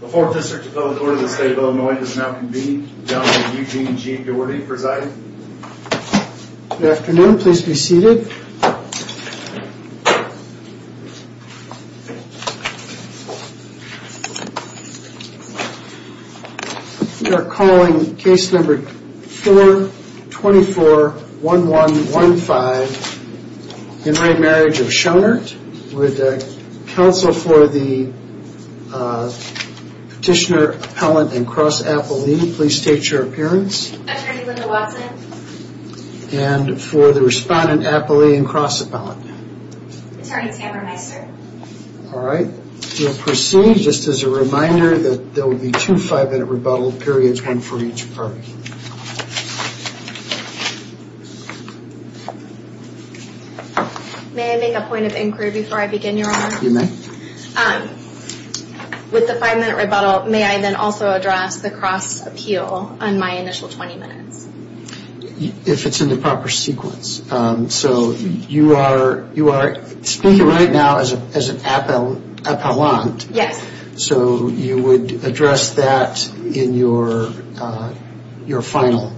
The 4th District of Public Order of the State of Illinois does now convene, Governor Eugene G. Doherty presiding. Good afternoon, please be seated. We are calling case number 424-1115 In Right Marriage of Schonert. Would counsel for the Petitioner, Appellant, and Cross-Appellee please state your appearance. Attorney Linda Watson. And for the Respondent, Appellee, and Cross-Appellant. Attorney Tamara Meister. Alright, we'll proceed just as a reminder that there will be two five minute rebuttal periods, one for each party. May I make a point of inquiry before I begin, Your Honor? You may. With the five minute rebuttal, may I then also address the cross appeal on my initial 20 minutes? If it's in the proper sequence. So you are speaking right now as an appellant. Yes. So you would address that in your final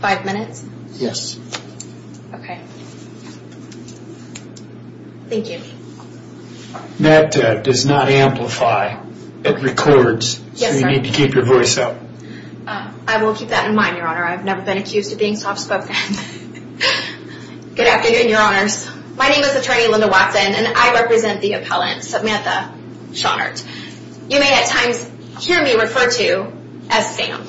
five minutes? Yes. Thank you. That does not amplify. It records. So you need to keep your voice up. I will keep that in mind, Your Honor. I've never been accused of being soft spoken. Good afternoon, Your Honors. My name is Attorney Linda Watson and I represent the Appellant, Samantha Schonert. You may at times hear me referred to as Sam.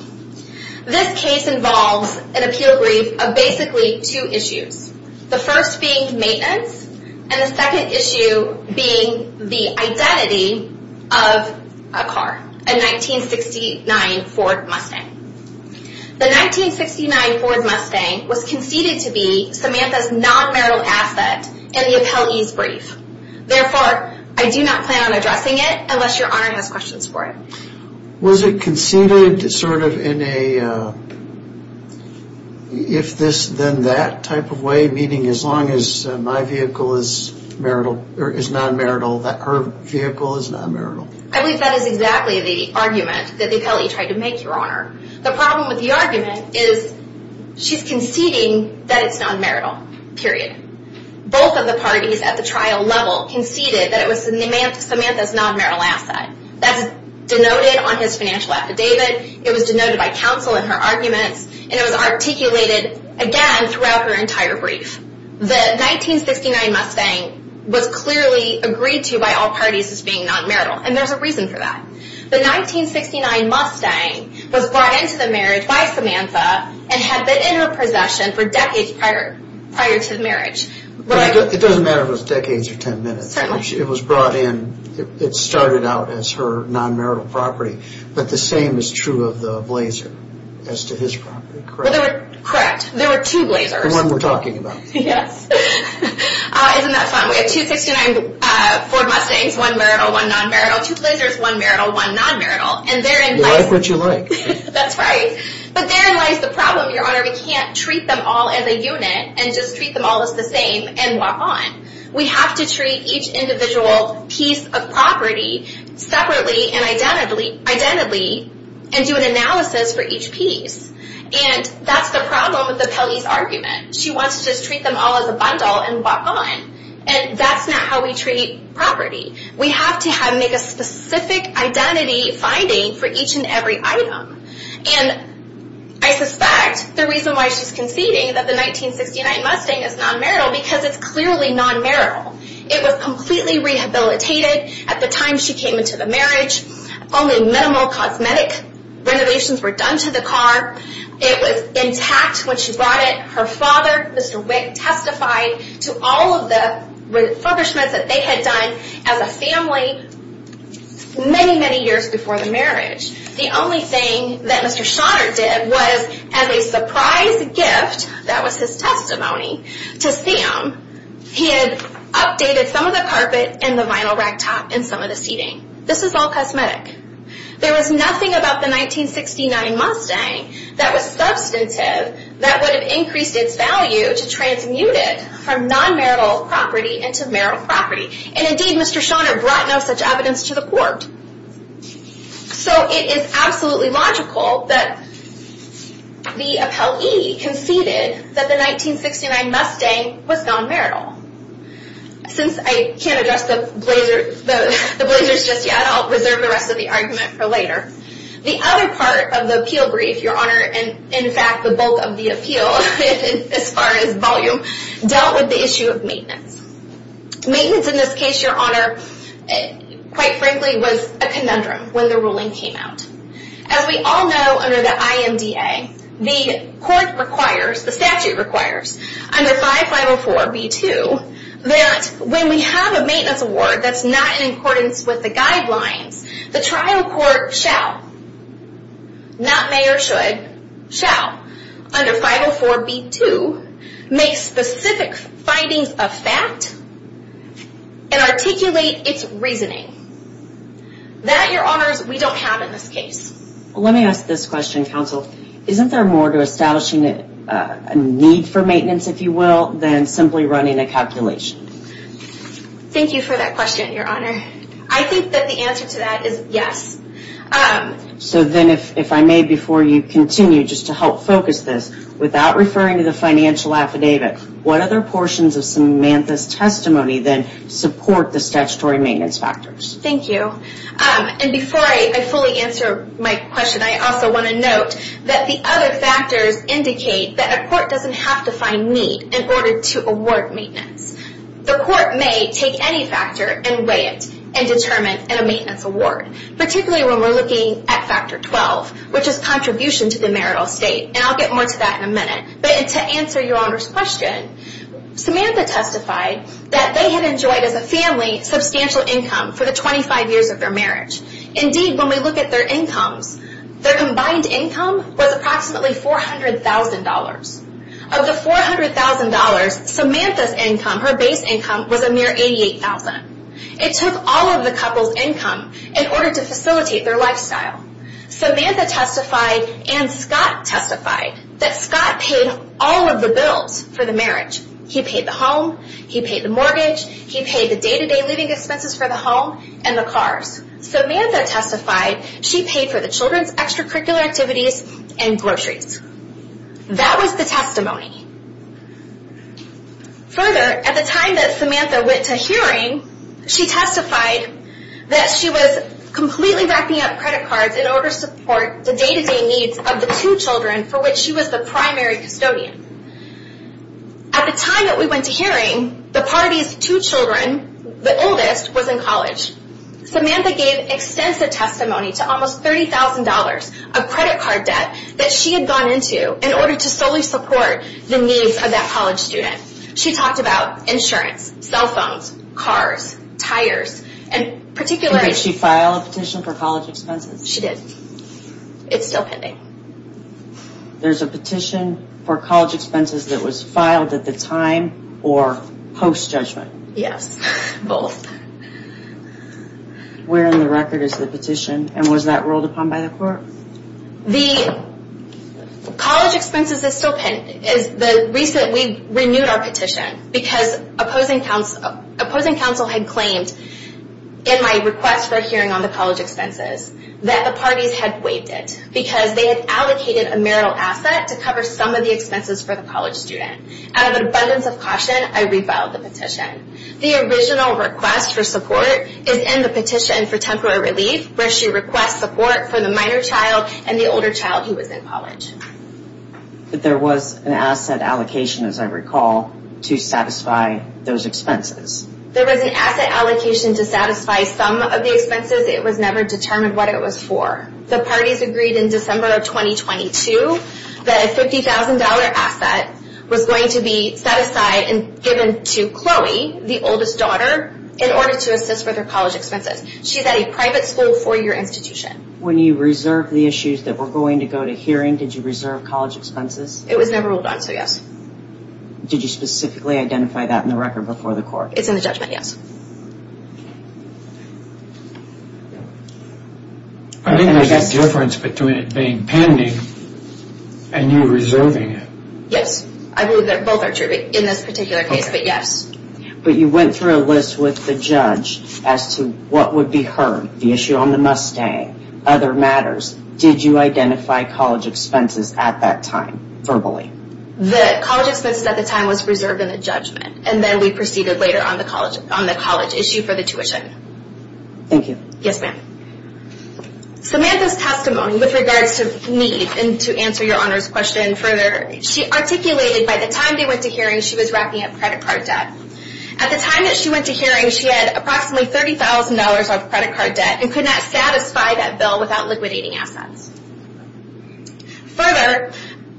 This case involves an appeal brief of basically two issues. The first being maintenance and the second issue being the identity of a car. A 1969 Ford Mustang. The 1969 Ford Mustang was conceded to be Samantha's non-marital asset in the appellee's brief. Therefore, I do not plan on addressing it unless Your Honor has questions for it. Was it conceded sort of in a if this then that type of way? Meaning as long as my vehicle is non-marital, her vehicle is non-marital? I believe that is exactly the argument that the appellee tried to make, Your Honor. The problem with the argument is she's conceding that it's non-marital. Period. Both of the parties at the trial level conceded that it was Samantha's non-marital asset. That's denoted on his financial affidavit. It was denoted by counsel in her arguments and it was articulated again throughout her entire brief. The 1969 Mustang was clearly agreed to by all parties as being non-marital and there's a reason for that. The 1969 Mustang was brought into the marriage by Samantha and had been in her possession for decades prior to the marriage. It doesn't matter if it was decades or ten minutes. It was brought in, it started out as her non-marital property, but the same is true of the Blazer as to his property. Correct? Correct. There were two Blazers. The one we're talking about. Yes. Isn't that fun? We have two 1969 Ford Mustangs one marital, one non-marital. Two Blazers, one marital, one non-marital. You like what you like. That's right. But therein lies the problem, Your Honor. We can't treat them all as a unit and just treat them all as the same and walk on. We have to treat each individual piece of property separately and identically and do an analysis for each piece. And that's the problem with the Pele's argument. She wants to just treat them all as a bundle and walk on. And that's not how we treat property. We have to make a specific identity finding for each and every item. And I suspect the reason why she's conceding that the 1969 Mustang is non-marital because it's clearly non-marital. It was completely rehabilitated at the time she came into the marriage. Only minimal cosmetic renovations were done to the car. It was intact when she brought it. Her father, Mr. Wick, testified to all of the refurbishments that they had done as a family many, many years before the marriage. The only thing that Mr. Schotter did was as a surprise gift that was his testimony to Sam, he had updated some of the carpet and the vinyl rack top and some of the seating. This is all cosmetic. There was nothing about the 1969 Mustang that was substantive that would have increased its value to transmute it from non-marital property into marital property. And indeed Mr. Schotter brought no such evidence to the court. So it is absolutely logical that the appellee conceded that the 1969 Mustang was non-marital. Since I can't address the blazers just yet, I'll reserve the rest of the argument for later. The other part of the appeal brief, Your Honor, and in fact the bulk of the appeal, as far as volume, dealt with the issue of maintenance. Maintenance in this case, Your Honor, quite frankly was a conundrum when the ruling came out. As we all know under the IMDA, the court requires, the statute requires, under 5504B2 that when we have a maintenance award that's not in accordance with the guidelines, the trial court shall not may or should, shall, under 504B2 make specific findings of fact and articulate its reasoning. That, Your Honors, we don't have in this case. Let me ask this question, Counsel. Isn't there more to establishing a need for maintenance, if you will, than simply running a calculation? Thank you for that question, Your Honor. I think that the answer to that is yes. So then if I may, before you continue, just to help focus this, without referring to the financial affidavit, what other portions of Samantha's testimony then support the statutory maintenance factors? Thank you. And before I fully answer my question, I also want to note that the other factors indicate that a court doesn't have to find need in order to award maintenance. The court may take any factor and weigh it and determine a maintenance award. Particularly when we're looking at Factor 12, which is contribution to the marital estate. And I'll get more to that in a minute. But to answer Your Honor's question, Samantha testified that they had enjoyed, as a family, substantial income for the 25 years of their marriage. Indeed, when we look at their incomes, their combined income was approximately $400,000. Of the $400,000, Samantha's income, her base income, was a mere $88,000. It took all of the couple's income in order to facilitate their lifestyle. Samantha testified and Scott testified that Scott paid all of the bills for the marriage. He paid the home, he paid the mortgage, he paid the day-to-day living expenses for the home and the cars. Samantha testified she paid for the children's extracurricular activities and groceries. That was the testimony. Further, at the time that Samantha went to hearing, she testified that she was completely racking up credit cards in order to support the day-to-day needs of the two children for which she was the primary custodian. At the time that we went to hearing, the party's two children, the oldest, was in college. Samantha gave extensive testimony to almost $30,000 of credit card debt that she had gone into in order to solely support the needs of that college student. She talked about insurance, cell phones, cars, tires, and particularly... Did she file a petition for college expenses? She did. It's still pending. There's a petition for college expenses that was filed at the time or post-judgment? Yes. Both. Where in the record is the petition and was that rolled upon by the court? College expenses is still pending. We renewed our petition because opposing counsel had claimed in my request for a hearing on the college expenses that the parties had waived it because they had allocated a marital asset to cover some of the expenses for the college student. Out of an abundance of caution, I reviled the petition. The original request for support is in the petition for temporary relief where she requests support for the minor child and the older child who was in college. But there was an asset allocation, as I recall, to satisfy those expenses? There was an asset allocation to satisfy some of the expenses. It was never determined what it was for. The parties agreed in December of 2022 that a $50,000 asset was going to be set aside and given to Chloe, the oldest daughter, in order to assist with her college expenses. She's at a private school four-year institution. When you reserved the issues that were going to go to hearing, did you reserve college expenses? It was never rolled on, so yes. Did you specifically identify that in the record before the court? It's in the judgment, yes. I think there's a difference between it being pending and you reserving it. Yes, I believe that both are true in this particular case, but yes. But you went through a list with the judge as to what would be heard, the issue on the Mustang, other matters. Did you identify college expenses at that time verbally? The college expenses at the time was reserved in the judgment, and then we proceeded later on the college issue for the tuition. Thank you. Yes, ma'am. Samantha's testimony with regards to need, and to answer your Honor's question further, she articulated by the time they went to hearing, she was racking up credit card debt. At the time that she went to hearing, she had approximately $30,000 of credit card debt and could not satisfy that bill without liquidating assets. Further,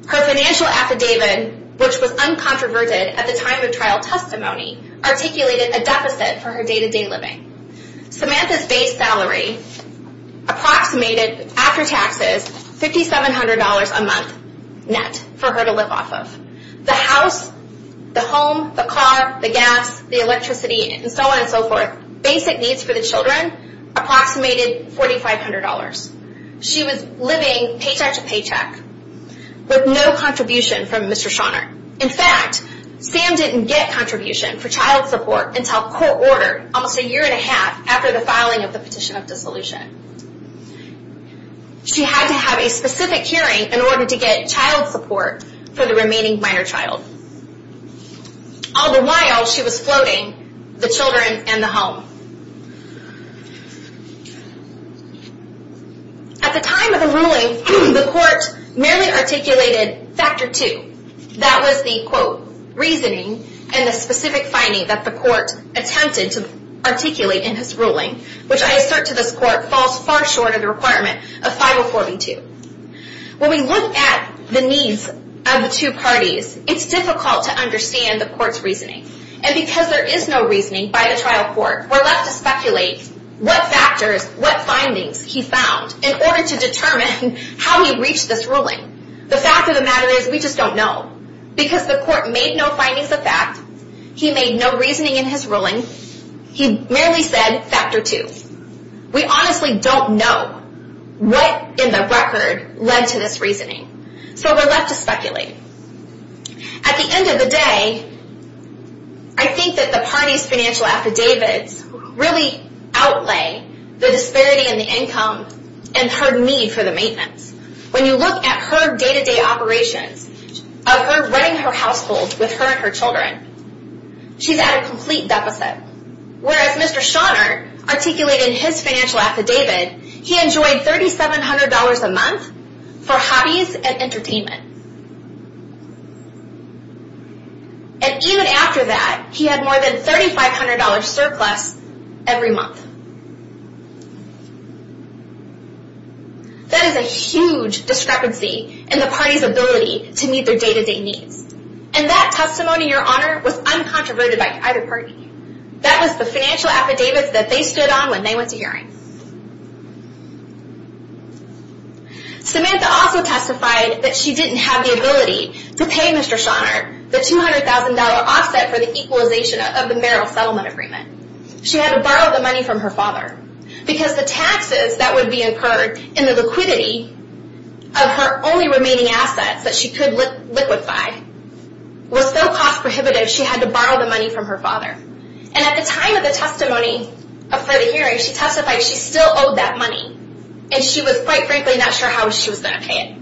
her financial affidavit, which was uncontroverted at the time of trial testimony, articulated a deficit for her day-to-day living. Samantha's base salary approximated, after taxes, $5,700 a month net for her to live off of. The house, the home, the car, the gas, the electricity, and so on and so forth, basic needs for the children, approximated $4,500. She was living paycheck to paycheck with no contribution from Mr. Schauner. In fact, Sam didn't get contribution for child support until court ordered almost a year and a half after the filing of the petition of dissolution. She had to have a specific hearing in order to get child support for the remaining minor child. All the while, she was floating the children and the home. At the time of the ruling, the court merely articulated Factor 2. That was the reasoning and the specific finding that the court attempted to articulate in his ruling, which I assert to this court falls far short of the requirement of 504B2. When we look at the needs of the two parties, it's difficult to understand the court's reasoning. And because there is no reasoning by the trial court, we're left to speculate what factors, what findings he found in order to determine how he reached this ruling. The fact of the matter is, we just don't know. Because the court made no findings of fact, he made no reasoning in his ruling, he merely said Factor 2. We honestly don't know what in the record led to this reasoning. So we're left to speculate. At the end of the day, I think that the party's financial affidavits really outlay the disparity in the income and her need for the maintenance. When you look at her day-to-day operations of her running her household with her and her children, she's at a complete deficit. Whereas Mr. Schauner articulated in his financial affidavit, he enjoyed $3,700 a month for hobbies and entertainment. And even after that, he had more than $3,500 surplus every month. That is a huge discrepancy in the party's ability to meet their day-to-day needs. And that testimony, Your Honor, was uncontroverted by either party. That was the financial affidavits that they stood on when they went to hearing. Samantha also testified that she didn't have the ability to pay Mr. Schauner the $200,000 offset for the equalization of the Merrill Settlement Agreement. She had to borrow the money from her father because the taxes that would be incurred in the liquidity of her only remaining assets that she could liquefy was so cost-prohibitive she had to borrow the money from her father. And at the time of the testimony for the hearing, she testified she still owed that money and she was quite frankly not sure how she was going to pay it.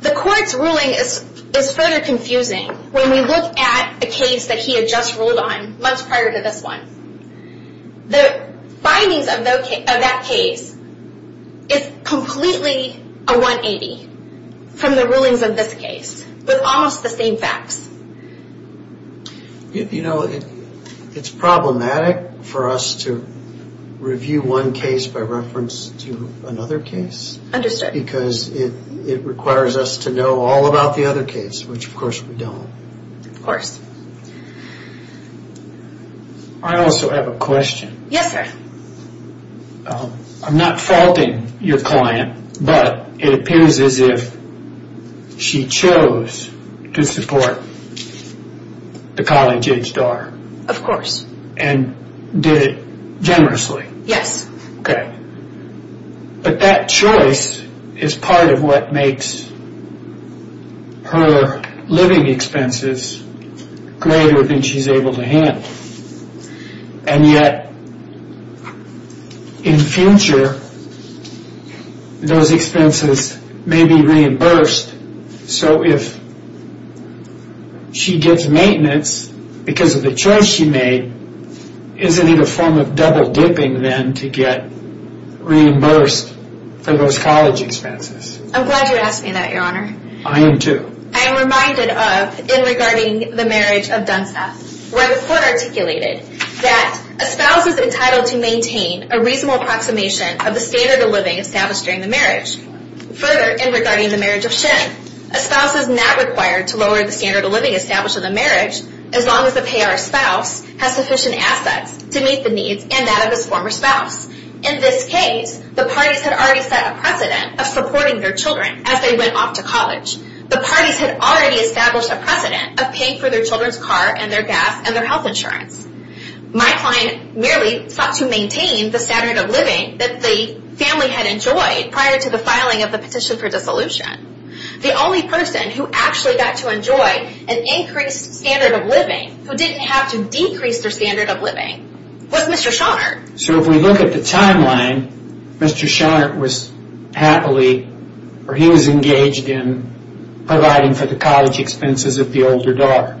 The court's ruling is further confusing when we look at a case that he had just ruled on months prior to this one. The findings of that case is completely a 180 from the rulings of this case with almost the same facts. You know, it's problematic for us to review one case by reference to another because it requires us to know all about the other case, which of course we don't. I also have a question. Yes, sir. I'm not faulting your client, but it appears as if she chose to support the college-aged daughter. Of course. And did it generously. Yes. Okay. But that choice is part of what makes her living expenses greater than she's able to handle. And yet, in future those expenses may be reimbursed, so if she gets maintenance because of the choice she made, is it a form of double-dipping then to get reimbursed for those college expenses? I'm glad you asked me that, Your Honor. I am too. I am reminded of, in regarding the marriage of Dunstath, where the court articulated that a spouse is entitled to maintain a reasonable approximation of the standard of living established during the marriage. Further, in regarding the marriage of Shinn, a spouse is not required to lower the standard of living established in the marriage as long as the payor spouse has sufficient assets to meet the needs and that of his former spouse. In this case, the parties had already set a precedent of supporting their children as they went off to college. The parties had already established a precedent of paying for their children's car and their gas and their health insurance. My client merely sought to maintain the standard of living that the family had enjoyed prior to the filing of the petition for dissolution. The only person who actually got to enjoy an increased standard of living, who didn't have to decrease their standard of living, was Mr. Schoenert. So if we look at the timeline, Mr. Schoenert was happily, or he was engaged in providing for the college expenses of the older daughter.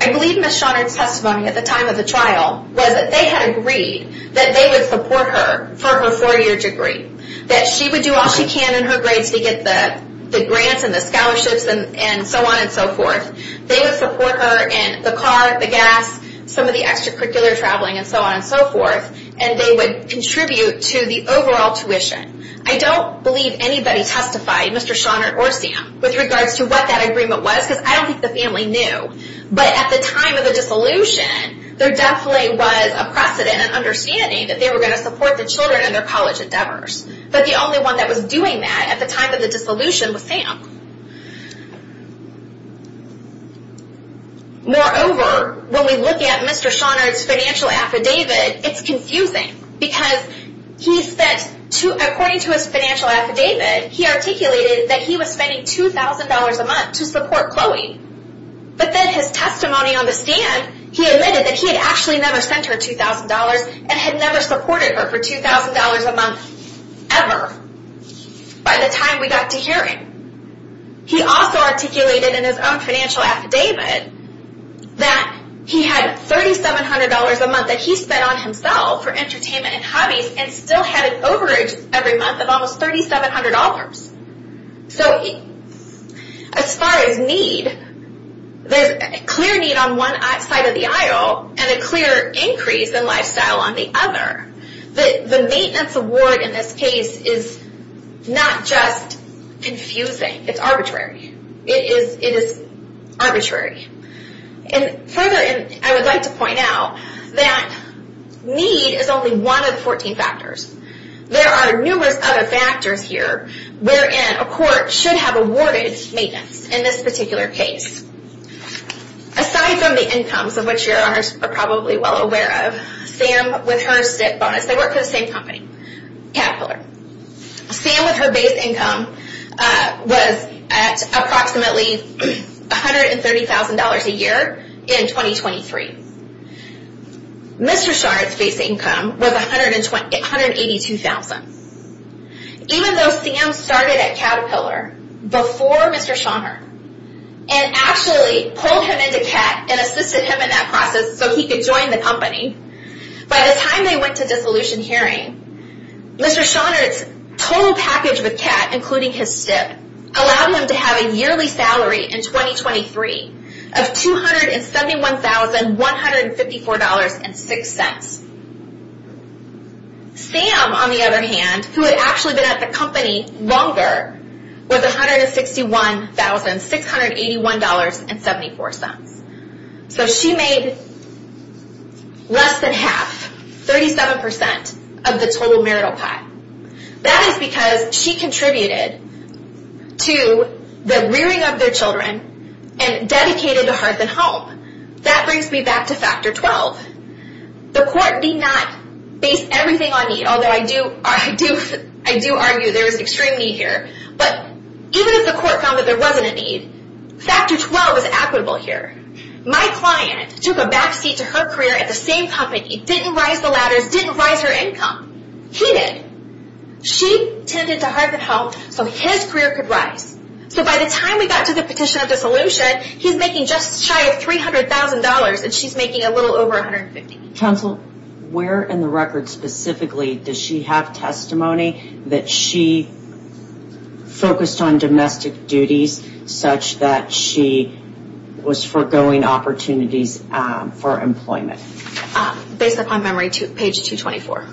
I believe Ms. Schoenert's testimony at the time of the trial was that they had agreed that they would support her for her four-year degree, that she would do all she can in her grades to get the grants and the scholarships and so on and so forth. They would support her in the car, the gas, some of the extracurricular traveling and so on and so forth, and they would contribute to the overall tuition. I don't believe anybody testified, Mr. Schoenert or Sam, with regards to what that agreement was, because I don't think the family knew. But at the time of the dissolution, there definitely was a precedent and understanding that they were going to support the children in their college endeavors. But the only one that was doing that at the time of the dissolution was Sam. Moreover, when we look at Mr. Schoenert's financial affidavit, it's confusing, because he said, according to his financial affidavit, he articulated that he was spending $2,000 a month to support Chloe. But then his testimony on the stand, he admitted that he had actually never sent her $2,000 and had never supported her for $2,000 a month, ever, by the time we got to hearing. He also articulated in his own financial affidavit that he had $3,700 a month that he spent on himself for entertainment and hobbies and still had an overage every month of almost $3,700. So, as far as need, there's a clear need on one side of the aisle and a clear increase in lifestyle on the other. The maintenance award in this case is not just confusing, it's arbitrary. It is arbitrary. Further, I would like to point out that need is only one of the 14 factors. There are numerous other factors here wherein a court should have awarded maintenance in this particular case. Aside from the incomes, of which you are probably well aware of, Sam with her SIP bonus, they work for the same company, Caterpillar. Sam with her base income was at approximately $130,000 a year in 2023. Mr. Scharnert's base income was $182,000. Even though Sam started at Caterpillar before Mr. Scharnert and actually pulled him into CAT and assisted him in that process so he could join the company, by the time they went to dissolution hearing, Mr. Scharnert's total package with CAT, including his SIP, allowed him to have a yearly salary in 2023 of $271,154.06. Sam, on the other hand, who had actually been at the company longer, was $161,681.74. So, she made less than half, 37% of the total marital pie. That is because she contributed to the rearing of their children and dedicated to Hearth and Home. That brings me back to Factor 12. The court did not base everything on need, although I do argue there is extreme need here, but even if the court found that there wasn't a need, Factor 12 is equitable here. My client took a backseat to her career at the same company, didn't rise the ladders, didn't rise her income. He did. She tended to Hearth and Home so his career could rise. So, by the time we got to the petition of dissolution, he's making just shy of $300,000 and she's making a little over $150,000. Where in the record specifically does she have testimony that she focused on domestic duties such that she was forgoing opportunities for employment? Based upon memory, page 224.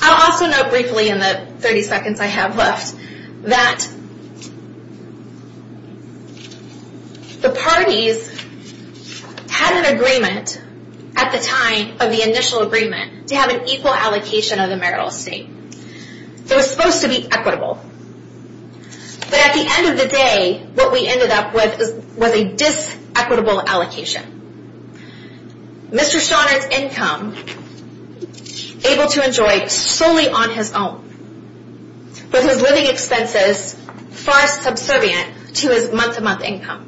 I'll also note briefly in the 30 seconds I have left that the parties had an agreement at the time of the initial agreement to have an equal allocation of the marital estate. It was supposed to be equitable, but at the end of the day, what we ended up with was a dis-equitable allocation. Mr. Shonner's income, able to enjoy solely on his own, with his living expenses far subservient to his month-to-month income.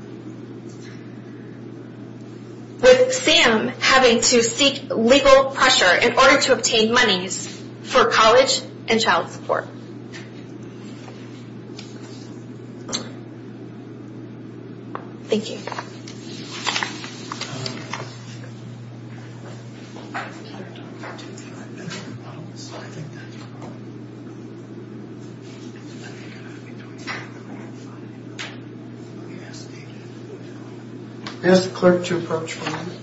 With Sam having to seek legal pressure in order to obtain monies for college and child Thank you. Any other questions? I asked the clerk to approach for me.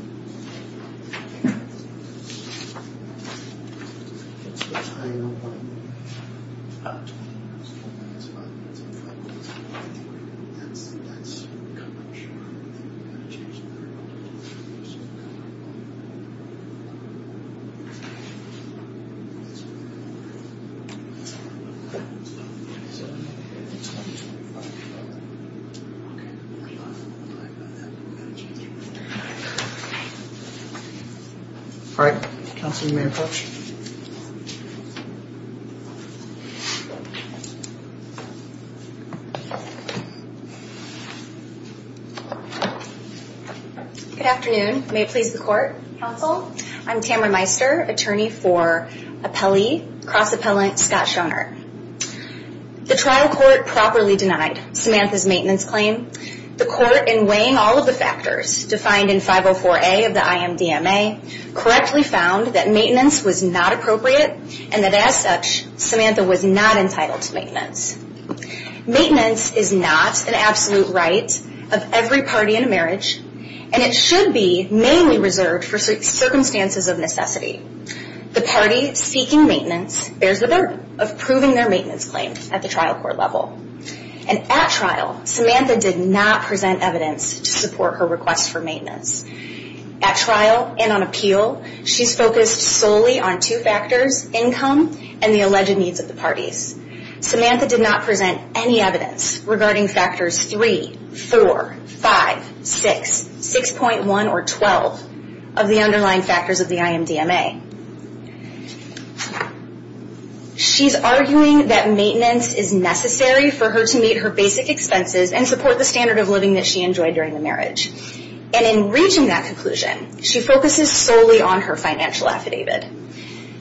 All right. All right. Councilman Maycroft. Good afternoon. May it please the court. I'm Tamara Meister, attorney for appellee, cross-appellant Scott Shonner. The trial court properly denied Samantha's maintenance claim. The court, in weighing all of the factors defined in 504A of the IMDMA, correctly found that maintenance was not appropriate and that as such, Samantha was not entitled to maintenance. Maintenance is not an absolute right of every party in a marriage and it should be mainly reserved for circumstances of necessity. The party seeking maintenance bears the burden of proving their maintenance claim at the trial court level. And at trial, Samantha did not present evidence to support her request for maintenance. At trial and on appeal, she's focused solely on two factors, income and the alleged needs of the parties. Samantha did not present any evidence regarding factors 3, 4, 5, 6, 6.1 or 12 of the underlying factors of the IMDMA. She's arguing that maintenance is necessary for her to meet her basic expenses and support the standard of living that she enjoyed during the marriage. And in reaching that conclusion, she focuses solely on her financial affidavit.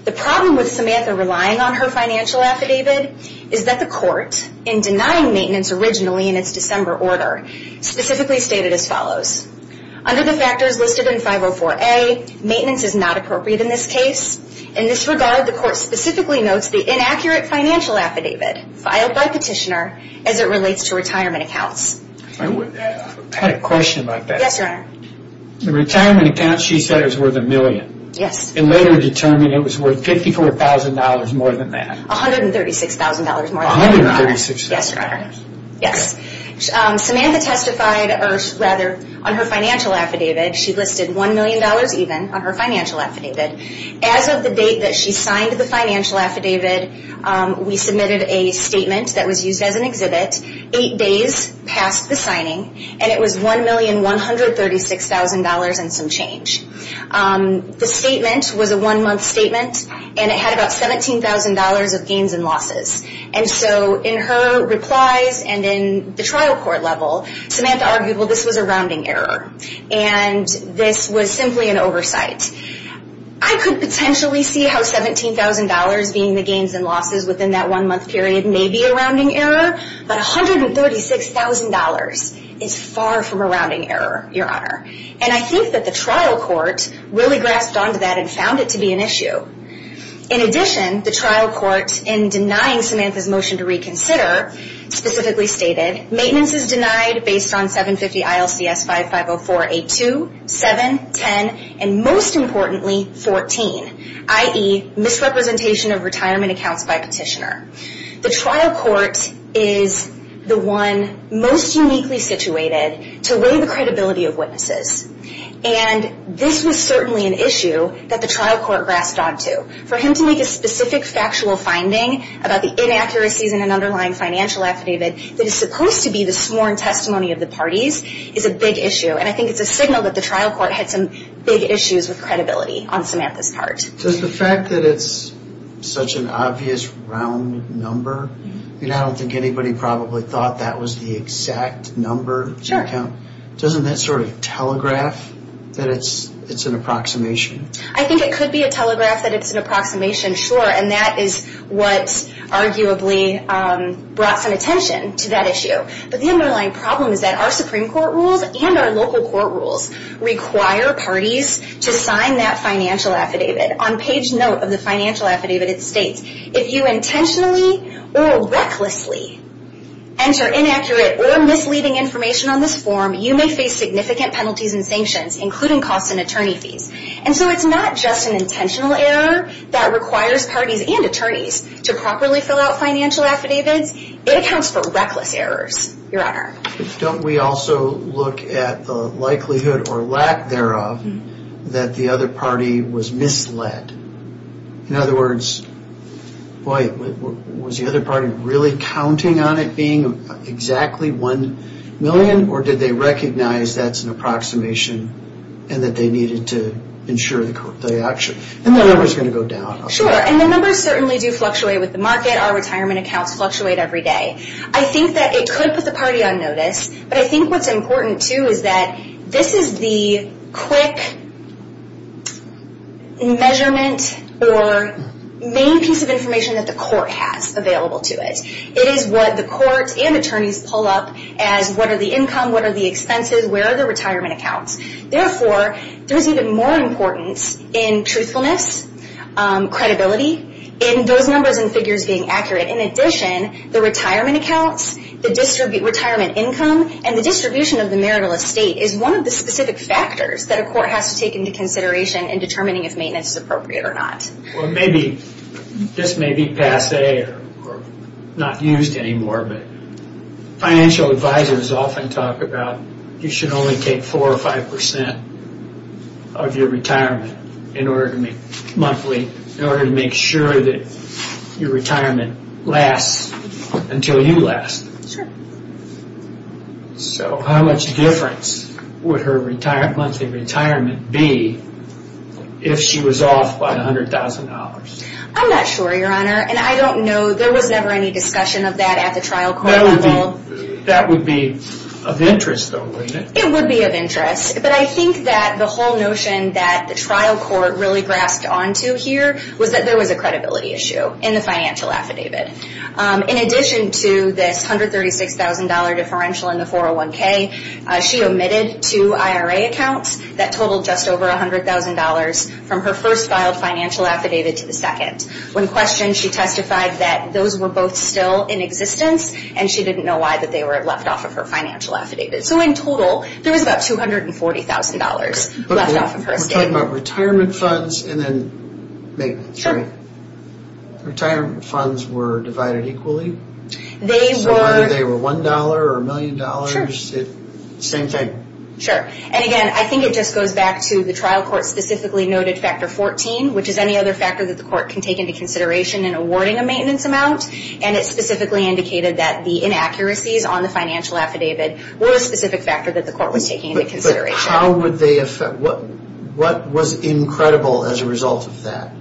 The problem with Samantha relying on her financial affidavit is that the court, in denying maintenance originally in its December order, specifically stated as follows. Under the factors listed in 504A, maintenance is not appropriate in this case. In this regard, the court specifically notes the inaccurate financial affidavit filed by petitioner as it relates to retirement accounts. I had a question about that. Yes, Your Honor. The retirement account she said was worth a million. Yes. And later determined it was worth $54,000 more than that. $136,000 more than that. $136,000? Yes, Your Honor. Yes. Samantha testified on her financial affidavit. She listed $1 million even on her financial affidavit. As of the date that she signed the financial affidavit, we submitted a statement that was used as an exhibit 8 days past the signing and it was $1,136,000 and some change. The statement was a one-month statement and it had about $17,000 of gains and losses. And so in her replies and in the trial court level, Samantha argued, well, this was a rounding error and this was simply an oversight. I could potentially see how $17,000 being the gains and losses within that one-month period may be a rounding error, but $136,000 is far from a rounding error, Your Honor. And I think that the trial court really grasped onto that and found it to be an issue. In addition, the trial court, in denying Samantha's motion to reconsider, specifically stated, maintenance is denied based on 750 ILCS 550482, 7, 10, and most importantly 14, i.e., misrepresentation of retirement accounts by petitioner. The trial court is the one most uniquely situated to weigh the credibility of witnesses. And this was certainly an issue that the trial court grasped onto. For him to make a specific factual finding about the inaccuracies in an underlying financial affidavit that is supposed to be the sworn testimony of the parties is a big issue. And I think it's a signal that the trial court had some big issues with credibility on Samantha's part. Does the fact that it's such an obvious round number, I don't think anybody probably thought that was the exact number of accounts. Doesn't that sort of telegraph that it's an approximation? I think it could be a telegraph that it's an approximation, sure. And that is what arguably brought some attention to that issue. But the underlying problem is that our Supreme Court rules and our local court rules require parties to sign that financial affidavit. On page note of the financial affidavit, it states if you intentionally or recklessly enter inaccurate or misleading information on this form, you may face significant penalties and sanctions, including costs and attorney fees. And so it's not just an intentional error that requires parties and attorneys to properly fill out financial affidavits. It accounts for reckless errors, Your Honor. Don't we also look at the likelihood or lack thereof that the other party was misled? In other words, was the other party really counting on it being exactly one million or did they recognize that's an approximation and that they needed to ensure the action? And the numbers are going to go down. Sure. And the numbers certainly do fluctuate with the market. Our retirement accounts fluctuate every day. I think that it could put the party on notice, but I think what's important too is that this is the quick measurement or main piece of information that the court has available to it. It is what the courts and attorneys pull up as what are the income, what are the expenses, where are the retirement accounts. Therefore, there's even more importance in truthfulness, credibility, and those numbers and figures being accurate. In addition, the retirement accounts, the retirement income, and the distribution of the marital estate is one of the specific factors that a court has to take into consideration in determining if maintenance is appropriate or not. This may be passe or not used anymore, but financial advisors often talk about you should only take 4 or 5 percent of your retirement monthly in order to make sure that your retirement lasts until you last. Sure. So how much difference would her monthly retirement be if she was off by $100,000? I'm not sure, Your Honor, and I don't know. There was never any discussion of that at the trial court level. That would be of interest though, wouldn't it? It would be of interest, but I think that the whole notion that the trial court really grasped onto here was that there was a credibility issue in the financial affidavit. In addition to this $136,000 differential in the 401K, she omitted two IRA accounts that totaled just over $100,000 from her first filed financial affidavit to the second. When questioned, she testified that those were both still in existence, and she didn't know why they were left off of her financial affidavit. So in total, there was about $240,000 left off of her statement. We're talking about retirement funds and then maintenance, right? Sure. Retirement funds were divided equally? They were. So either they were $1 or $1,000,000? Sure. Same thing? Sure. And again, I think it just goes back to the trial court specifically noted factor 14, which is any other factor that the court can take into consideration in awarding a maintenance amount. And it specifically indicated that the inaccuracies on the financial affidavit were a specific factor that the court was taking into consideration. But how would they affect...what was incredible as a result of that?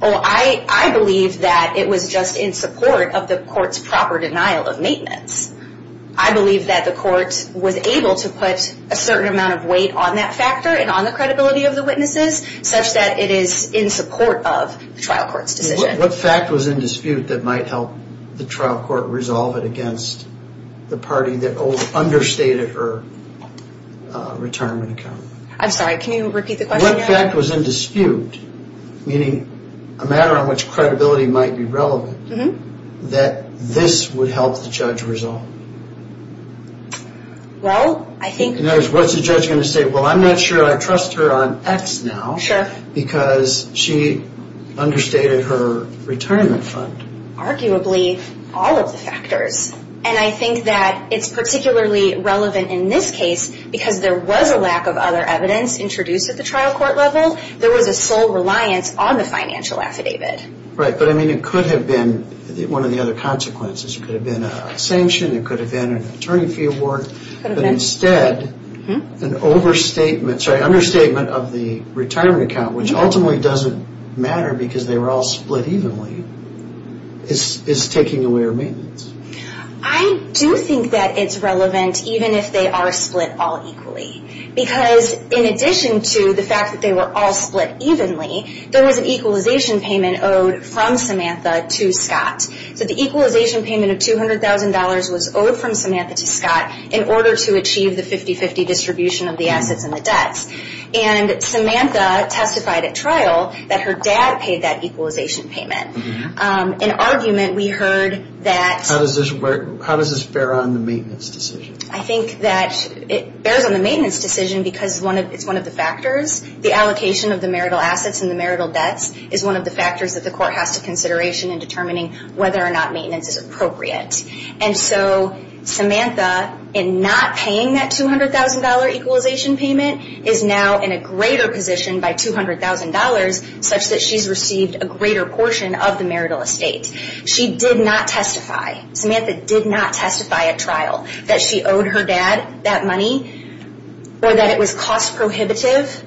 Well, I believe that it was just in support of the court's proper denial of maintenance. I believe that the court was able to put a certain amount of weight on that factor and on the credibility of the witnesses such that it is in support of the trial court's decision. What fact was in dispute that might help the trial court resolve it against the party that understated her retirement account? I'm sorry, can you repeat the question again? What fact was in dispute, meaning a matter on which credibility might be relevant, that this would help the judge resolve? Well, I think... In other words, what's the judge going to say? Well, I'm not sure I trust her on X now because she understated her retirement fund. Arguably, all of the factors. And I think that it's particularly relevant in this case because there was a lack of other evidence introduced at the trial court level. There was a sole reliance on the financial affidavit. Right, but I mean it could have been one of the other consequences. It could have been a sanction, it could have been an attorney fee award, but instead an understatement of the retirement account, which ultimately doesn't matter because they were all split evenly, is taking away her maintenance. I do think that it's relevant even if they are split all equally. Because in addition to the fact that they were all split evenly, there was an equalization payment owed from Samantha to Scott. So the equalization payment of $200,000 was owed from Samantha to Scott in order to achieve the 50-50 distribution of the assets and the debts. And Samantha testified at trial that her dad paid that equalization payment. An argument we heard that... How does this bear on the maintenance decision? I think that it bears on the maintenance decision because it's one of the factors. The allocation of the marital assets and the marital debts is one of the factors that the court has to consideration in determining whether or not maintenance is appropriate. And so Samantha, in not paying that $200,000 equalization payment, is now in a greater position by $200,000 such that she's received a greater portion of the marital estate. She did not testify, Samantha did not testify at trial that she owed her dad that money or that it was cost prohibitive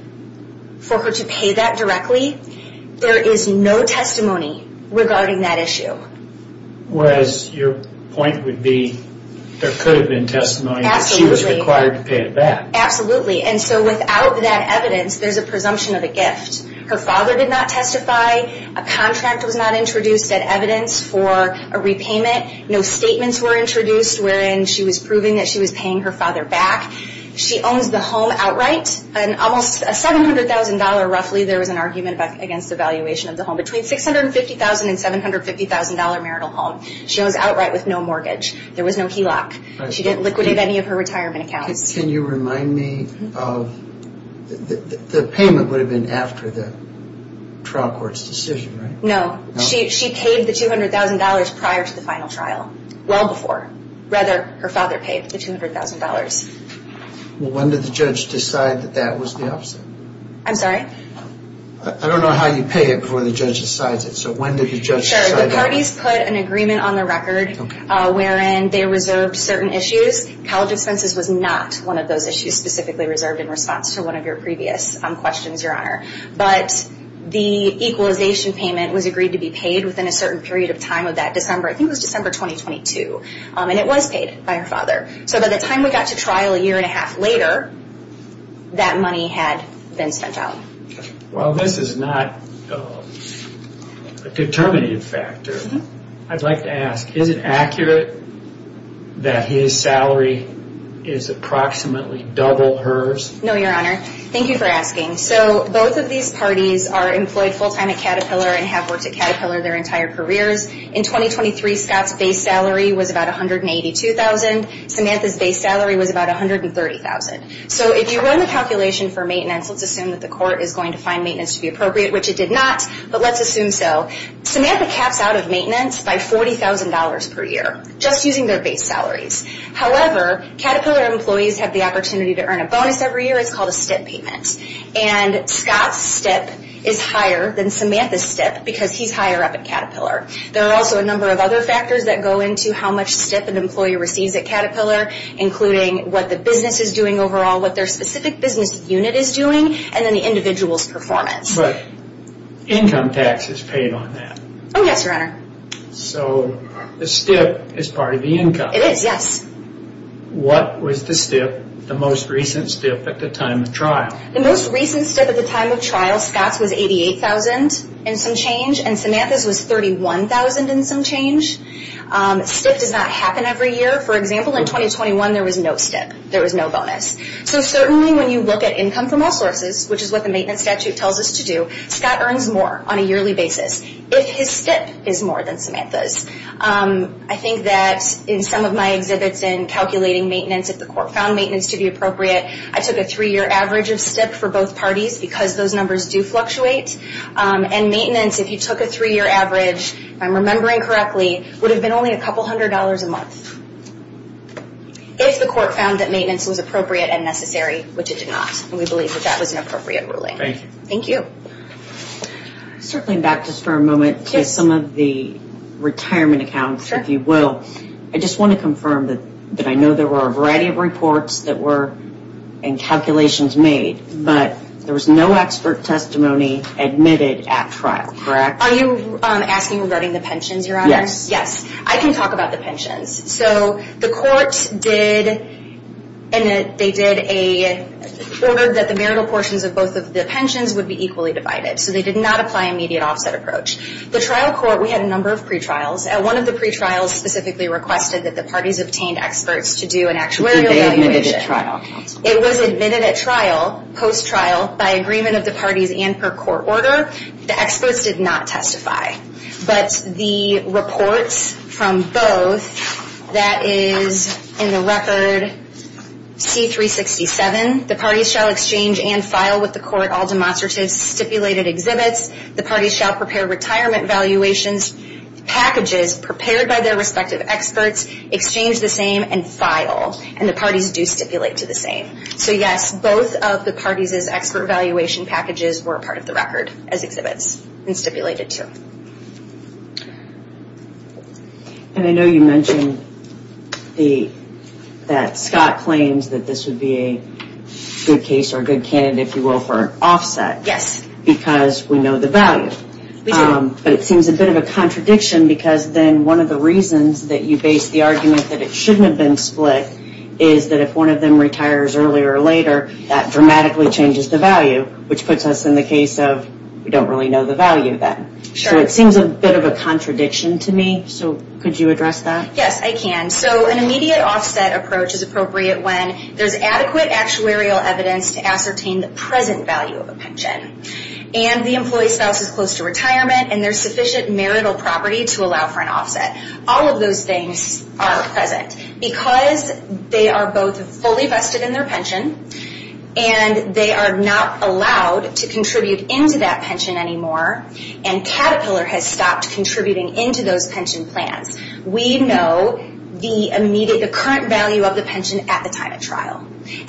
for her to pay that directly. There is no testimony regarding that issue. Whereas your point would be there could have been testimony that she was required to pay it back. Absolutely. And so without that evidence there's a presumption of a gift. Her father did not testify, a contract was not introduced that evidence for a repayment, no statements were introduced wherein she was proving that she was paying her father back. She owns the home outright, an almost $700,000 roughly, there was an argument against the valuation of the home, between $650,000 and $750,000 marital home. She owns outright with no mortgage. There was no HELOC. She didn't liquidate any of her retirement accounts. Can you remind me of, the payment would have been after the trial court's decision, right? No. She paid the $200,000 prior to the final trial, well before. Rather, her father paid the $200,000. When did the judge decide that that was the opposite? I'm sorry? I don't know how you pay it before the judge decides it, so when did the judge decide that? Sure, the parties put an agreement on the record wherein they reserved certain issues. College expenses was not one of those issues specifically reserved in response to one of your previous questions, Your Honor. But the equalization payment was agreed to be paid within a certain period of time of that December, I think it was December 2022. And it was paid by her father. So by the time we got to trial a year and a half later, that money had been spent out. Well, this is not a determinative factor. I'd like to ask, is it accurate that his salary is approximately double hers? No, Your Honor. Thank you for asking. So both of these parties are employed full-time at Caterpillar and have worked at Caterpillar their entire careers. In 2023, Scott's base salary was about $182,000. Samantha's base salary was about $130,000. So if you run the calculation for maintenance, let's assume that the court is going to find maintenance to be appropriate, which it did not, but let's assume so. Samantha caps out of maintenance by $40,000 per year, just using their base salaries. However, Caterpillar employees have the opportunity to earn a bonus every year. It's called a STIP payment. And Scott's STIP is higher than Samantha's STIP because he's higher up at Caterpillar. There are also a number of other factors that go into how much STIP an employee receives at Caterpillar, including what the business is doing overall, what their specific business unit is doing, and then the individual's performance. But income tax is paid on that. Oh, yes, Your Honor. So the STIP is part of the income. It is, yes. What was the STIP, the most recent STIP at the time of trial? The most recent STIP at the time of trial, Scott's was $88,000 and some change, and Samantha's was $31,000 and some change. STIP does not happen every year. For example, in 2021, there was no STIP. There was no bonus. So certainly when you look at income from all sources, which is what the maintenance statute tells us to do, Scott earns more on a yearly basis if his STIP is more than Samantha's. I think that in some of my exhibits in calculating maintenance if the court found maintenance to be appropriate, I took a three-year average of STIP for both parties because those numbers do fluctuate. And maintenance, if you took a three-year average, if I'm remembering correctly, would have been only a couple hundred dollars a month if the court found that maintenance was appropriate and necessary, which it did not. And we believe that that was an appropriate ruling. Thank you. Circling back just for a moment to some of the retirement accounts, if you will, I just want to confirm that I know there were a variety of reports that were submitted and calculations made, but there was no expert testimony admitted at trial, correct? Are you asking regarding the pensions, Your Honor? Yes. Yes. I can talk about the pensions. So the court did, they did a order that the marital portions of both of the pensions would be equally divided. So they did not apply an immediate offset approach. The trial court, we had a number of pre-trials. One of the pre-trials specifically requested that the parties obtain experts to do an actuarial evaluation. Were they admitted at trial? It was admitted at trial, post-trial, by agreement of the parties and per court order. The experts did not testify. But the reports from both, that is in the record C-367, the parties shall exchange and file with the court all demonstrative stipulated exhibits. The parties shall prepare retirement valuations, packages prepared by their respective experts, exchange the same and file. And the parties do stipulate to the same. So yes, both of the parties' expert valuation packages were part of the record as exhibits and stipulated to. And I know you mentioned that Scott claims that this would be a good case or a good candidate, if you will, for offset. Yes. Because we know the value. We do. But it seems a bit of a contradiction because then one of the reasons that you base the argument that it shouldn't have been split is that if one of them retires earlier or later, that dramatically changes the value, which puts us in the case of we don't really know the value then. Sure. So it seems a bit of a contradiction to me. So could you address that? Yes, I can. So an immediate offset approach is appropriate when there's adequate actuarial evidence to ascertain the present value of a pension. And the employee spouse is close to retirement and there's sufficient marital property to allow for an offset. All of those things are present. Because they are both fully vested in their pension and they are not allowed to contribute into that pension anymore and Caterpillar has stopped contributing into those pension plans, we know the current value of the pension at the time of trial.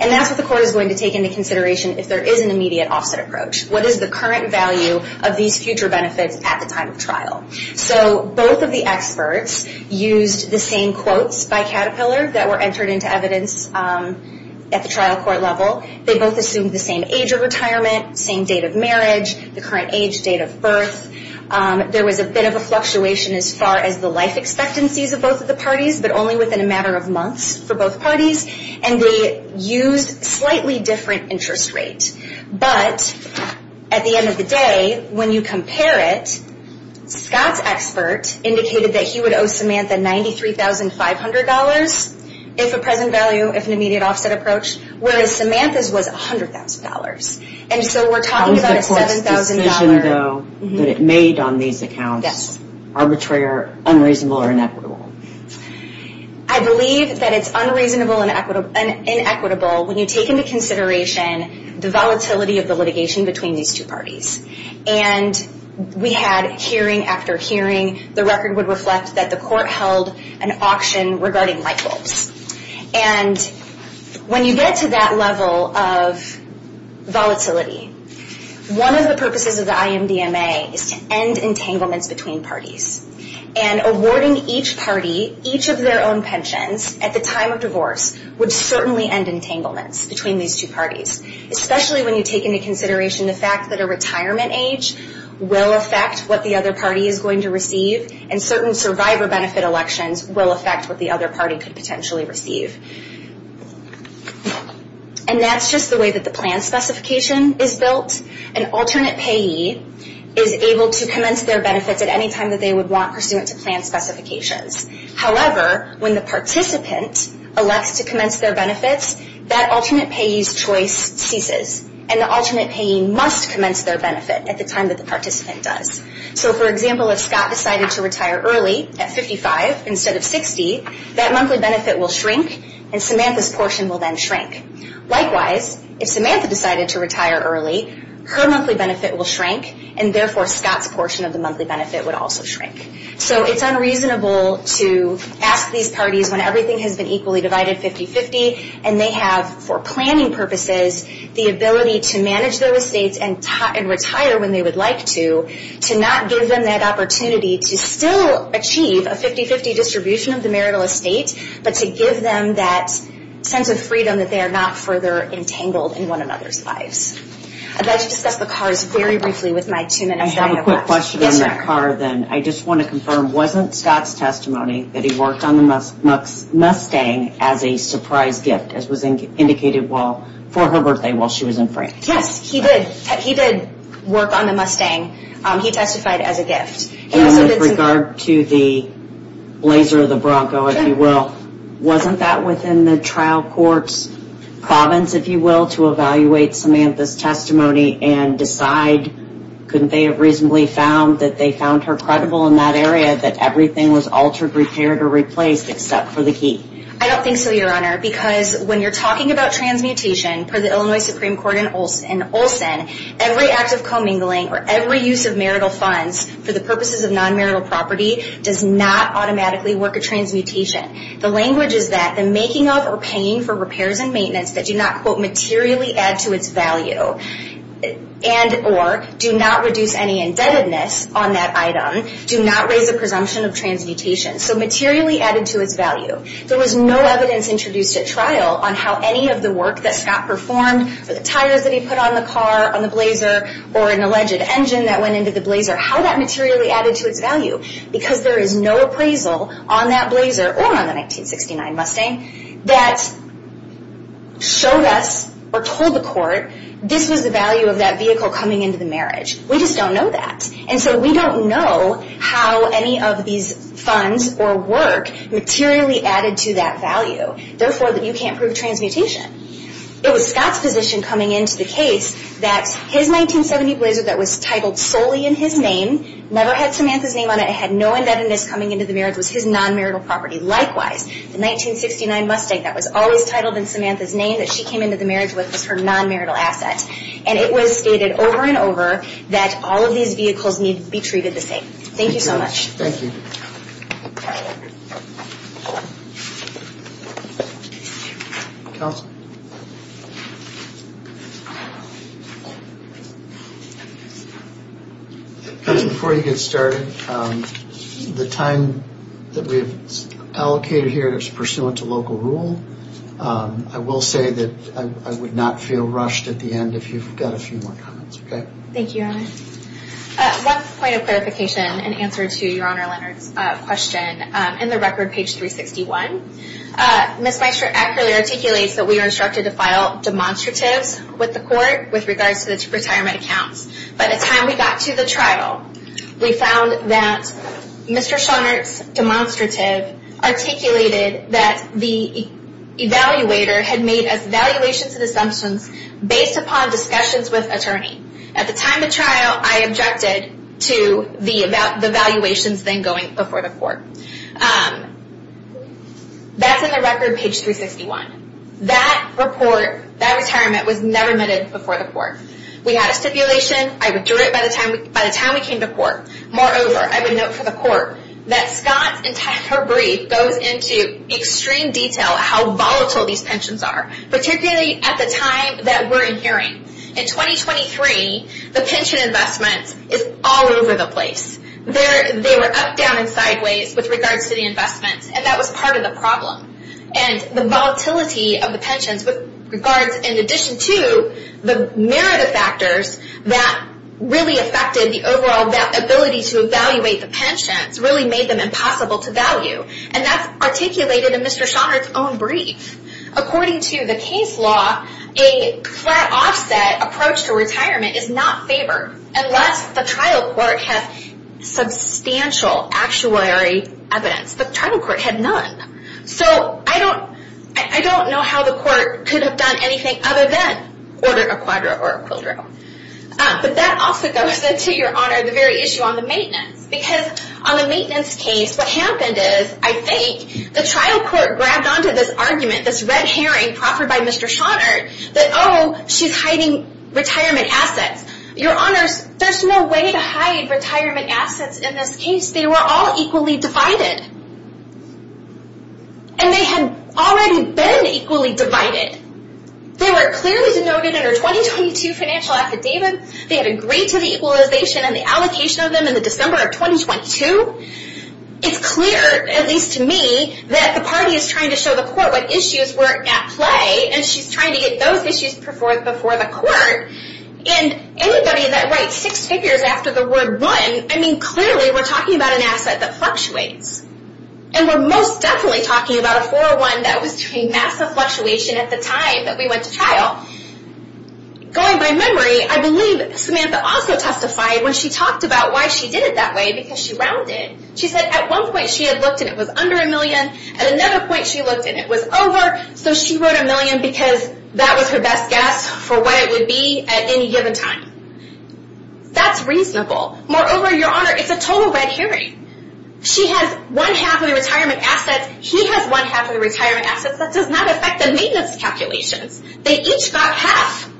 And that's what the court is going to take into consideration if there is an immediate offset approach. What is the current value of these future benefits at the time of trial? So both of the experts used the same quotes by Caterpillar that were entered into evidence at the trial court level. They both assumed the same age of retirement, same date of marriage, the current age, date of birth. There was a bit of a fluctuation as far as the life expectancies of both of the parties, but only within a matter of months for both parties. And they used slightly different interest rates. But at the end of the day, when you compare it, Scott's expert indicated that he would owe Samantha $93,500 if a present value, if an immediate offset approach, whereas Samantha's was $100,000. And so we're talking about a $7,000... What was the court's decision though that it made on these accounts? Arbitrary, unreasonable, or inequitable? I believe that it's unreasonable and inequitable when you take into consideration the volatility of the litigation between these two parties. And we had hearing after hearing. The record would reflect that the court held an auction regarding light bulbs. And when you get to that level of volatility, one of the purposes of the IMDMA is to end entanglements between parties. And awarding each party each of their own pensions at the time of divorce would certainly end entanglements between these two parties. Especially when you take into consideration the fact that a retirement age will affect what the other party is going to receive. And certain survivor benefit elections will affect what the other party could potentially receive. And that's just the way that the plan specification is built. An alternate payee is able to commence their benefits at any time that they would want pursuant to plan specifications. However, when the participant elects to commence their benefits, that alternate payee's choice ceases. And the alternate payee must commence their benefit at the time that the participant does. So for example, if Scott decided to retire early at 55 instead of 60, that monthly benefit will shrink and Samantha's portion will then shrink. Likewise, if Samantha decided to retire early, her monthly benefit will shrink and therefore Scott's portion of the monthly benefit would also shrink. So it's unreasonable to ask these parties when everything has been equally divided 50-50 and they have, for planning purposes, the ability to manage their estates and retire when they would like to, to not give them that opportunity to still achieve a 50-50 distribution of the marital estate but to give them that sense of freedom that they are not further entangled in one another's lives. I'd like to discuss the cars very briefly with my two minutes. I have a quick question on that car then. I just want to confirm wasn't Scott's testimony that he worked on the Mustang as a surprise gift, as was indicated for her birthday while she was in France? Yes, he did. He did work on the Mustang. He testified as a gift. And with regard to the laser of the Bronco, if you will, wasn't that within the trial court's province, if you will, to evaluate Samantha's testimony and decide, couldn't they have reasonably found that they found her credible in that area, that everything was altered, repaired, or replaced except for the key? I don't think so, Your Honor, because when you're talking about transmutation, per the Illinois Supreme Court in Olson, every act of commingling or every use of marital funds for the purposes of non-marital property does not automatically work a transmutation. The language is that the making of or paying for repairs and maintenance that do not materially add to its value and or do not reduce any indebtedness on that item do not raise a presumption of transmutation. So materially added to its value. There was no evidence introduced at trial on how any of the work that Scott performed or the tires that he put on the car, on the blazer, or an alleged engine that went into the blazer, how that materially added to its value because there is no appraisal on that blazer or on the 1969 Mustang that showed us or told the court this was the value of that vehicle coming into the marriage. We just don't know that. And so we don't know how any of these funds or work materially added to that value. Therefore, you can't prove transmutation. It was Scott's position coming into the case that his 1970 blazer that was titled solely in his name, never had Samantha's name on it, had no indebtedness coming into the marriage, was his non-marital property. Likewise, the 1969 Mustang that was always titled in Samantha's name that she came into the marriage with was her non-marital asset. And it was stated over and over that all of these vehicles need to be treated the same. Thank you so much. Thank you. Counsel? Before you get started, the time that we've allocated here is pursuant to local rule. I will say that I would not feel rushed at the end if you've got a few more comments. Thank you, Your Honor. One point of clarification in answer to Your Honor Leonard's question. In the record, page 361, Ms. Meister accurately articulates that we were instructed to file demonstratives with the court with regards to the retirement accounts. By the time we got to the trial, we found that Mr. Schonert's demonstrative articulated that the evaluator had made evaluations and assumptions based upon discussions with attorney. At the time of trial, I objected to the evaluations then going before the court. That's in the record page 361. That report, that retirement was never omitted before the court. We had a stipulation. I withdrew it by the time we came to court. Moreover, I would note for the court that Ms. Schonert's entire brief goes into extreme detail how volatile these pensions are, particularly at the time that we're in hearing. In 2023, the pension investments is all over the place. They were up, down, and sideways with regards to the investments, and that was part of the problem. The volatility of the pensions with regards, in addition to the narrative factors that really affected the overall ability to evaluate the pensions, really made them impossible to value. That's articulated in Mr. Schonert's own brief. According to the case law, a flat offset approach to retirement is not favored unless the trial court has substantial actuary evidence. The trial court had none. I don't know how the court could have done anything other than order a quadra or a quildro. That also goes into your honor, the very issue on the maintenance. Because on the maintenance case, what happened is, I think, the trial court grabbed onto this argument, this red herring proffered by Mr. Schonert, that oh, she's hiding retirement assets. Your honors, there's no way to hide retirement assets in this case. They were all equally divided. And they had already been equally divided. They were clearly denoted in our 2022 financial affidavit. They had agreed to the equalization and the allocation of them in the December of 2022. It's clear, at least to me, that the party is trying to show the court what issues were at play, and she's trying to get those issues before the court. And anybody that writes six figures after the word one, I mean, clearly we're talking about an asset that fluctuates. And we're most definitely talking about a 401 that was doing massive fluctuation at the time that we went to trial. Going by memory, I believe Samantha also testified when she talked about why she did it that way, because she rounded. She said at one point she had looked and it was under a million, at another point she looked and it was over, so she wrote a million because that was her best guess for what it would be at any given time. That's reasonable. Moreover, your honor, it's a total red herring. She has one half of the retirement assets, he has one half of the retirement assets. That does not affect the maintenance calculations. They each got half.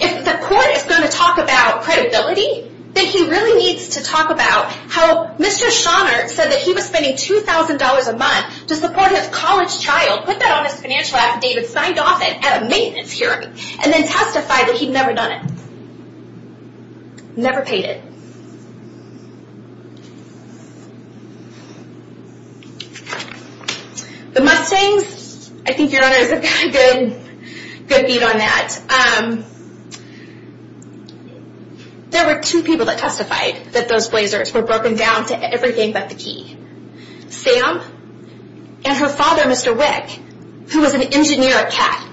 If the court is going to talk about credibility, then he really needs to talk about how Mr. Schoenert said that he was spending $2,000 a month to support his college child, put that on his financial affidavit, signed off it at a maintenance hearing, and then testified that he'd never done it. Never paid it. The Mustangs, I think your honors have got a good beat on that. There were two people that testified that those blazers were broken down to everything but the key. Sam and her father, Mr. Wick, who was an engineer at CAT,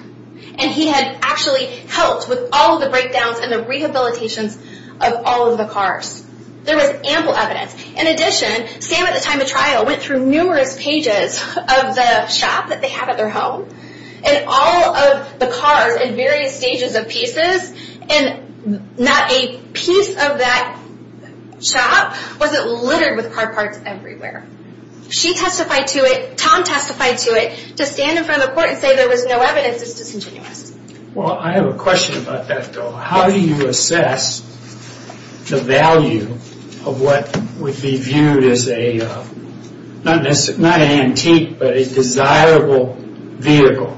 and he had actually helped with all of the breakdowns and the rehabilitations of all of the cars. There was ample evidence. In addition, Sam at the time of trial went through numerous pages of the shop that they have at their home, and all of the cars in various stages of pieces, and not a piece of that shop wasn't littered with car parts everywhere. She testified to it, Tom testified to it, to stand in front of the court and say there was no evidence is disingenuous. Well, I have a question about that, though. How do you assess the value of what would be viewed as a, not an antique, but a desirable vehicle?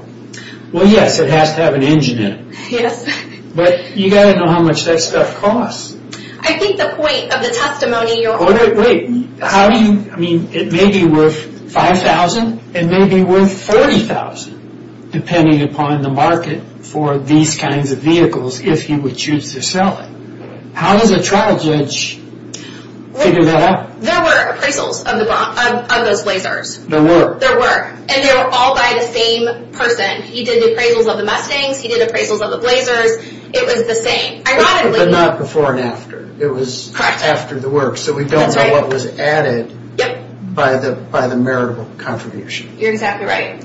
Well, yes, it has to have an engine in it. Yes. But you've got to know how much that stuff costs. I think the point of the testimony you're offering... It may be worth $5,000, it may be worth $40,000, depending upon the market for these kinds of vehicles, if you would choose to sell it. How does a trial judge figure that out? There were appraisals of those Blazers. There were. And they were all by the same person. He did the appraisals of the Mustangs, he did appraisals of the Blazers. It was the same. But not before and after. It was after the work, so we don't know what was added by the meritable contribution. You're exactly right.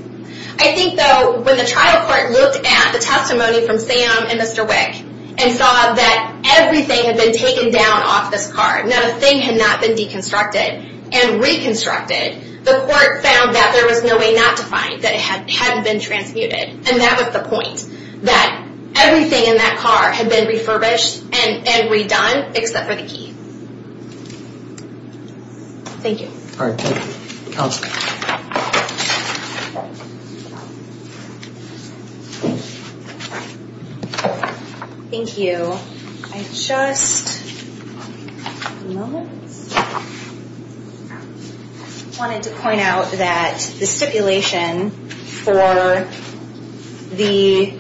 I think, though, when the trial court looked at the testimony from Sam and Mr. Wick and saw that everything had been taken down off this car, not a thing had not been deconstructed and reconstructed, the court found that there was no way not to find that it hadn't been transmuted. And that was the point, that everything in that car had been refurbished and redone, except for the key. Thank you. All right. Counsel. Thank you. I just wanted to point out that the stipulation for the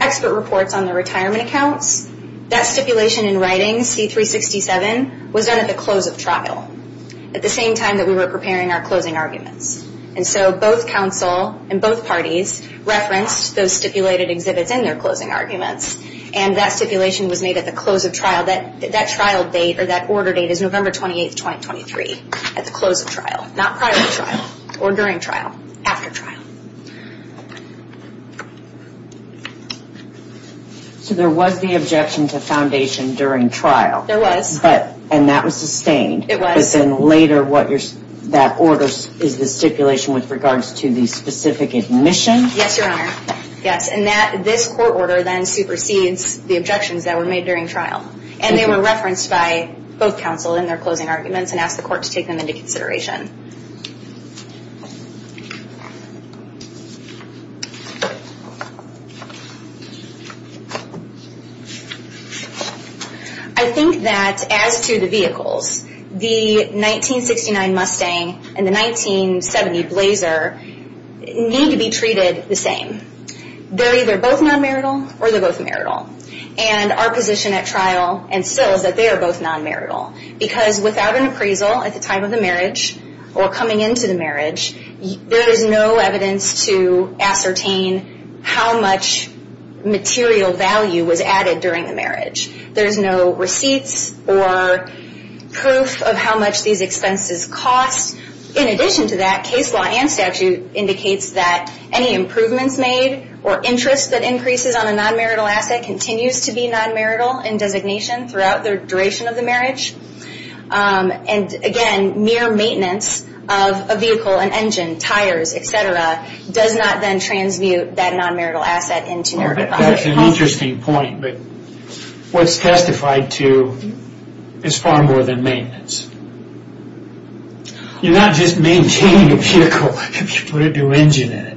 expert reports on the retirement accounts, that stipulation in writing C-367, was done at the close of trial, at the same time that we were preparing our closing arguments. And so both counsel and both parties referenced those stipulated exhibits in their closing arguments and that stipulation was made at the close of trial. That trial date or that order date is November 28, 2023, at the close of trial, not prior to trial, or during trial, after trial. So there was the objection to foundation during trial. There was. And that was sustained. It was. But then later, that order is the stipulation with regards to the specific admission? Yes, Your Honor. Yes. And this court order then supersedes the objections that were made during trial. And they were referenced by both counsel in their closing arguments and asked the court to take them into consideration. I think that as to the vehicles, the 1969 Mustang and the 1970 Blazer need to be treated the same. They're either both non-marital or they're both marital. And our position at trial and still is that they are both non-marital. Because without an appraisal at the time of the marriage, or coming into the marriage, there is no evidence to ascertain how much material value was added during the marriage. There's no receipts or proof of how much these expenses cost. In addition to that, case law and statute indicates that any improvements made or interest that increases on a non-marital asset continues to be non-marital in designation throughout the duration of the marriage. And again, mere maintenance of a vehicle, an engine, tires, etc., does not then transmute that non-marital asset into marital property. That's an interesting point, but what's testified to is far more than maintenance. You're not just maintaining a vehicle if you put a new engine in it.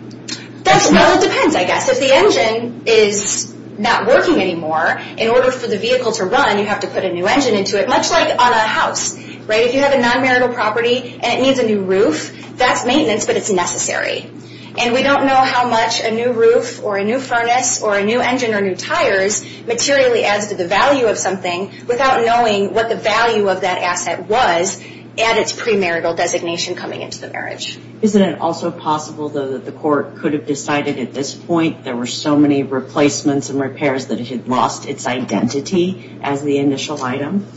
Well, it depends, I guess. If the engine is not working anymore, in order for the vehicle to run you have to put a new engine into it, much like on a house. If you have a non-marital property and it needs a new roof, that's maintenance, but it's necessary. And we don't know how much a new roof or a new furnace or a new engine or new tires materially adds to the value of something without knowing what the value of that asset was at its premarital designation coming into the marriage. Isn't it also possible, though, that the court could have decided at this point there were so many replacements and repairs that it had lost its identity as the initial item?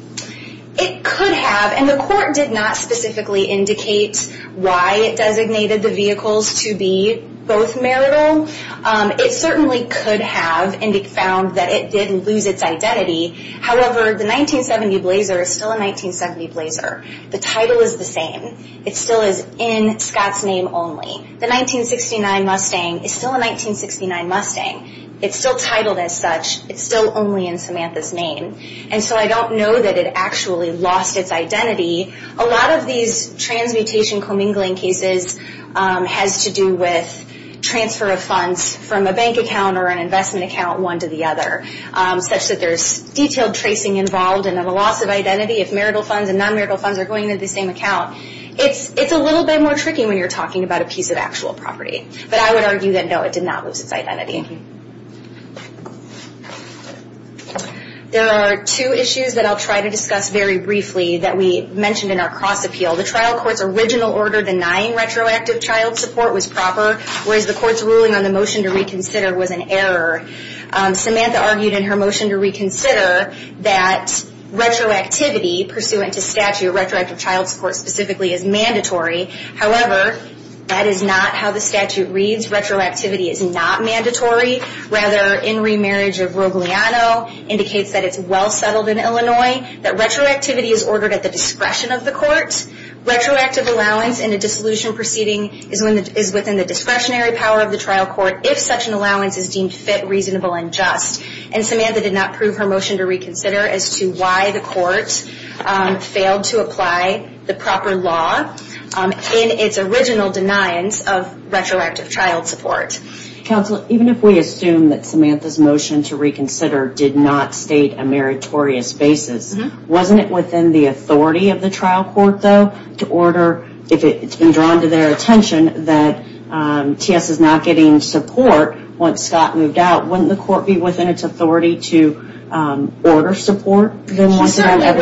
It could have, and the court did not specifically indicate why it designated the vehicles to be both marital. It certainly could have found that it did lose its identity. However, the 1970 Blazer is still a 1970 Blazer. The title is the same. It still is in Scott's name only. The 1969 Mustang is still a 1969 Mustang. It's still titled as such. It's still only in Samantha's name. And so I don't know that it actually lost its identity. A lot of these transmutation commingling cases has to do with transfer of funds from a bank account or an investment account one to the other, such that there's detailed tracing involved and a loss of identity if marital funds and non-marital funds are going into the same account. It's a little bit more tricky when you're talking about a piece of actual property. But I would argue that, no, it did not lose its identity. There are two issues that I'll try to discuss very briefly that we mentioned in our cross-appeal. The trial court's original order denying retroactive child support was proper, whereas the court's ruling on the motion to reconsider was an error. Samantha argued in her motion to reconsider that retroactivity pursuant to statute, retroactive child support specifically, is mandatory. However, that is not how the statute reads. Retroactivity is not mandatory. Rather, in remarriage of Rogliano indicates that it's well settled in Illinois, that retroactivity is ordered at the discretion of the court. Retroactive allowance in a dissolution proceeding is within the discretionary power of the trial court if such an allowance is deemed fit, reasonable, and just. And Samantha did not prove her motion to reconsider as to why the court failed to apply the proper law in its original deniance of retroactive child support. Counsel, even if we assume that Samantha's motion to reconsider did not state a meritorious basis, wasn't it within the authority of the trial court, though, to order, if it's been drawn to their attention, that TS is not getting support once Scott moved out, wouldn't the court be within its authority to order support? Yes, Your Honor.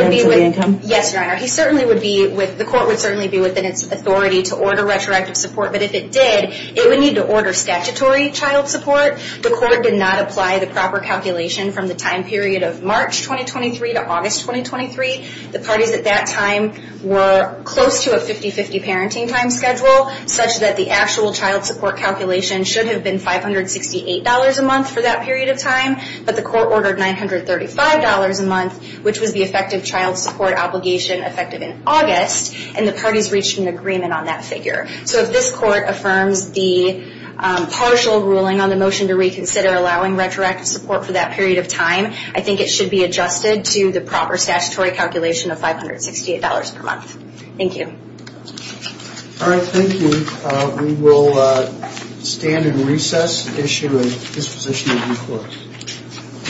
The court would certainly be within its authority to order retroactive support, but if it did, it would need to order statutory child support. The court did not apply the proper calculation from the time period of March 2023 to August 2023. The parties at that time were close to a 50-50 parenting time schedule, such that the actual child support calculation should have been $568 a month for that period of time, but the court ordered $935 a month, which was the effective child support obligation effective in August, and the parties reached an agreement on that figure. So if this court affirms the partial ruling on the motion to reconsider allowing retroactive support for that period of time, I think it should be adjusted to the proper statutory calculation of $568 per month. Thank you. Alright, thank you. We will stand in recess, issue a disposition of new court.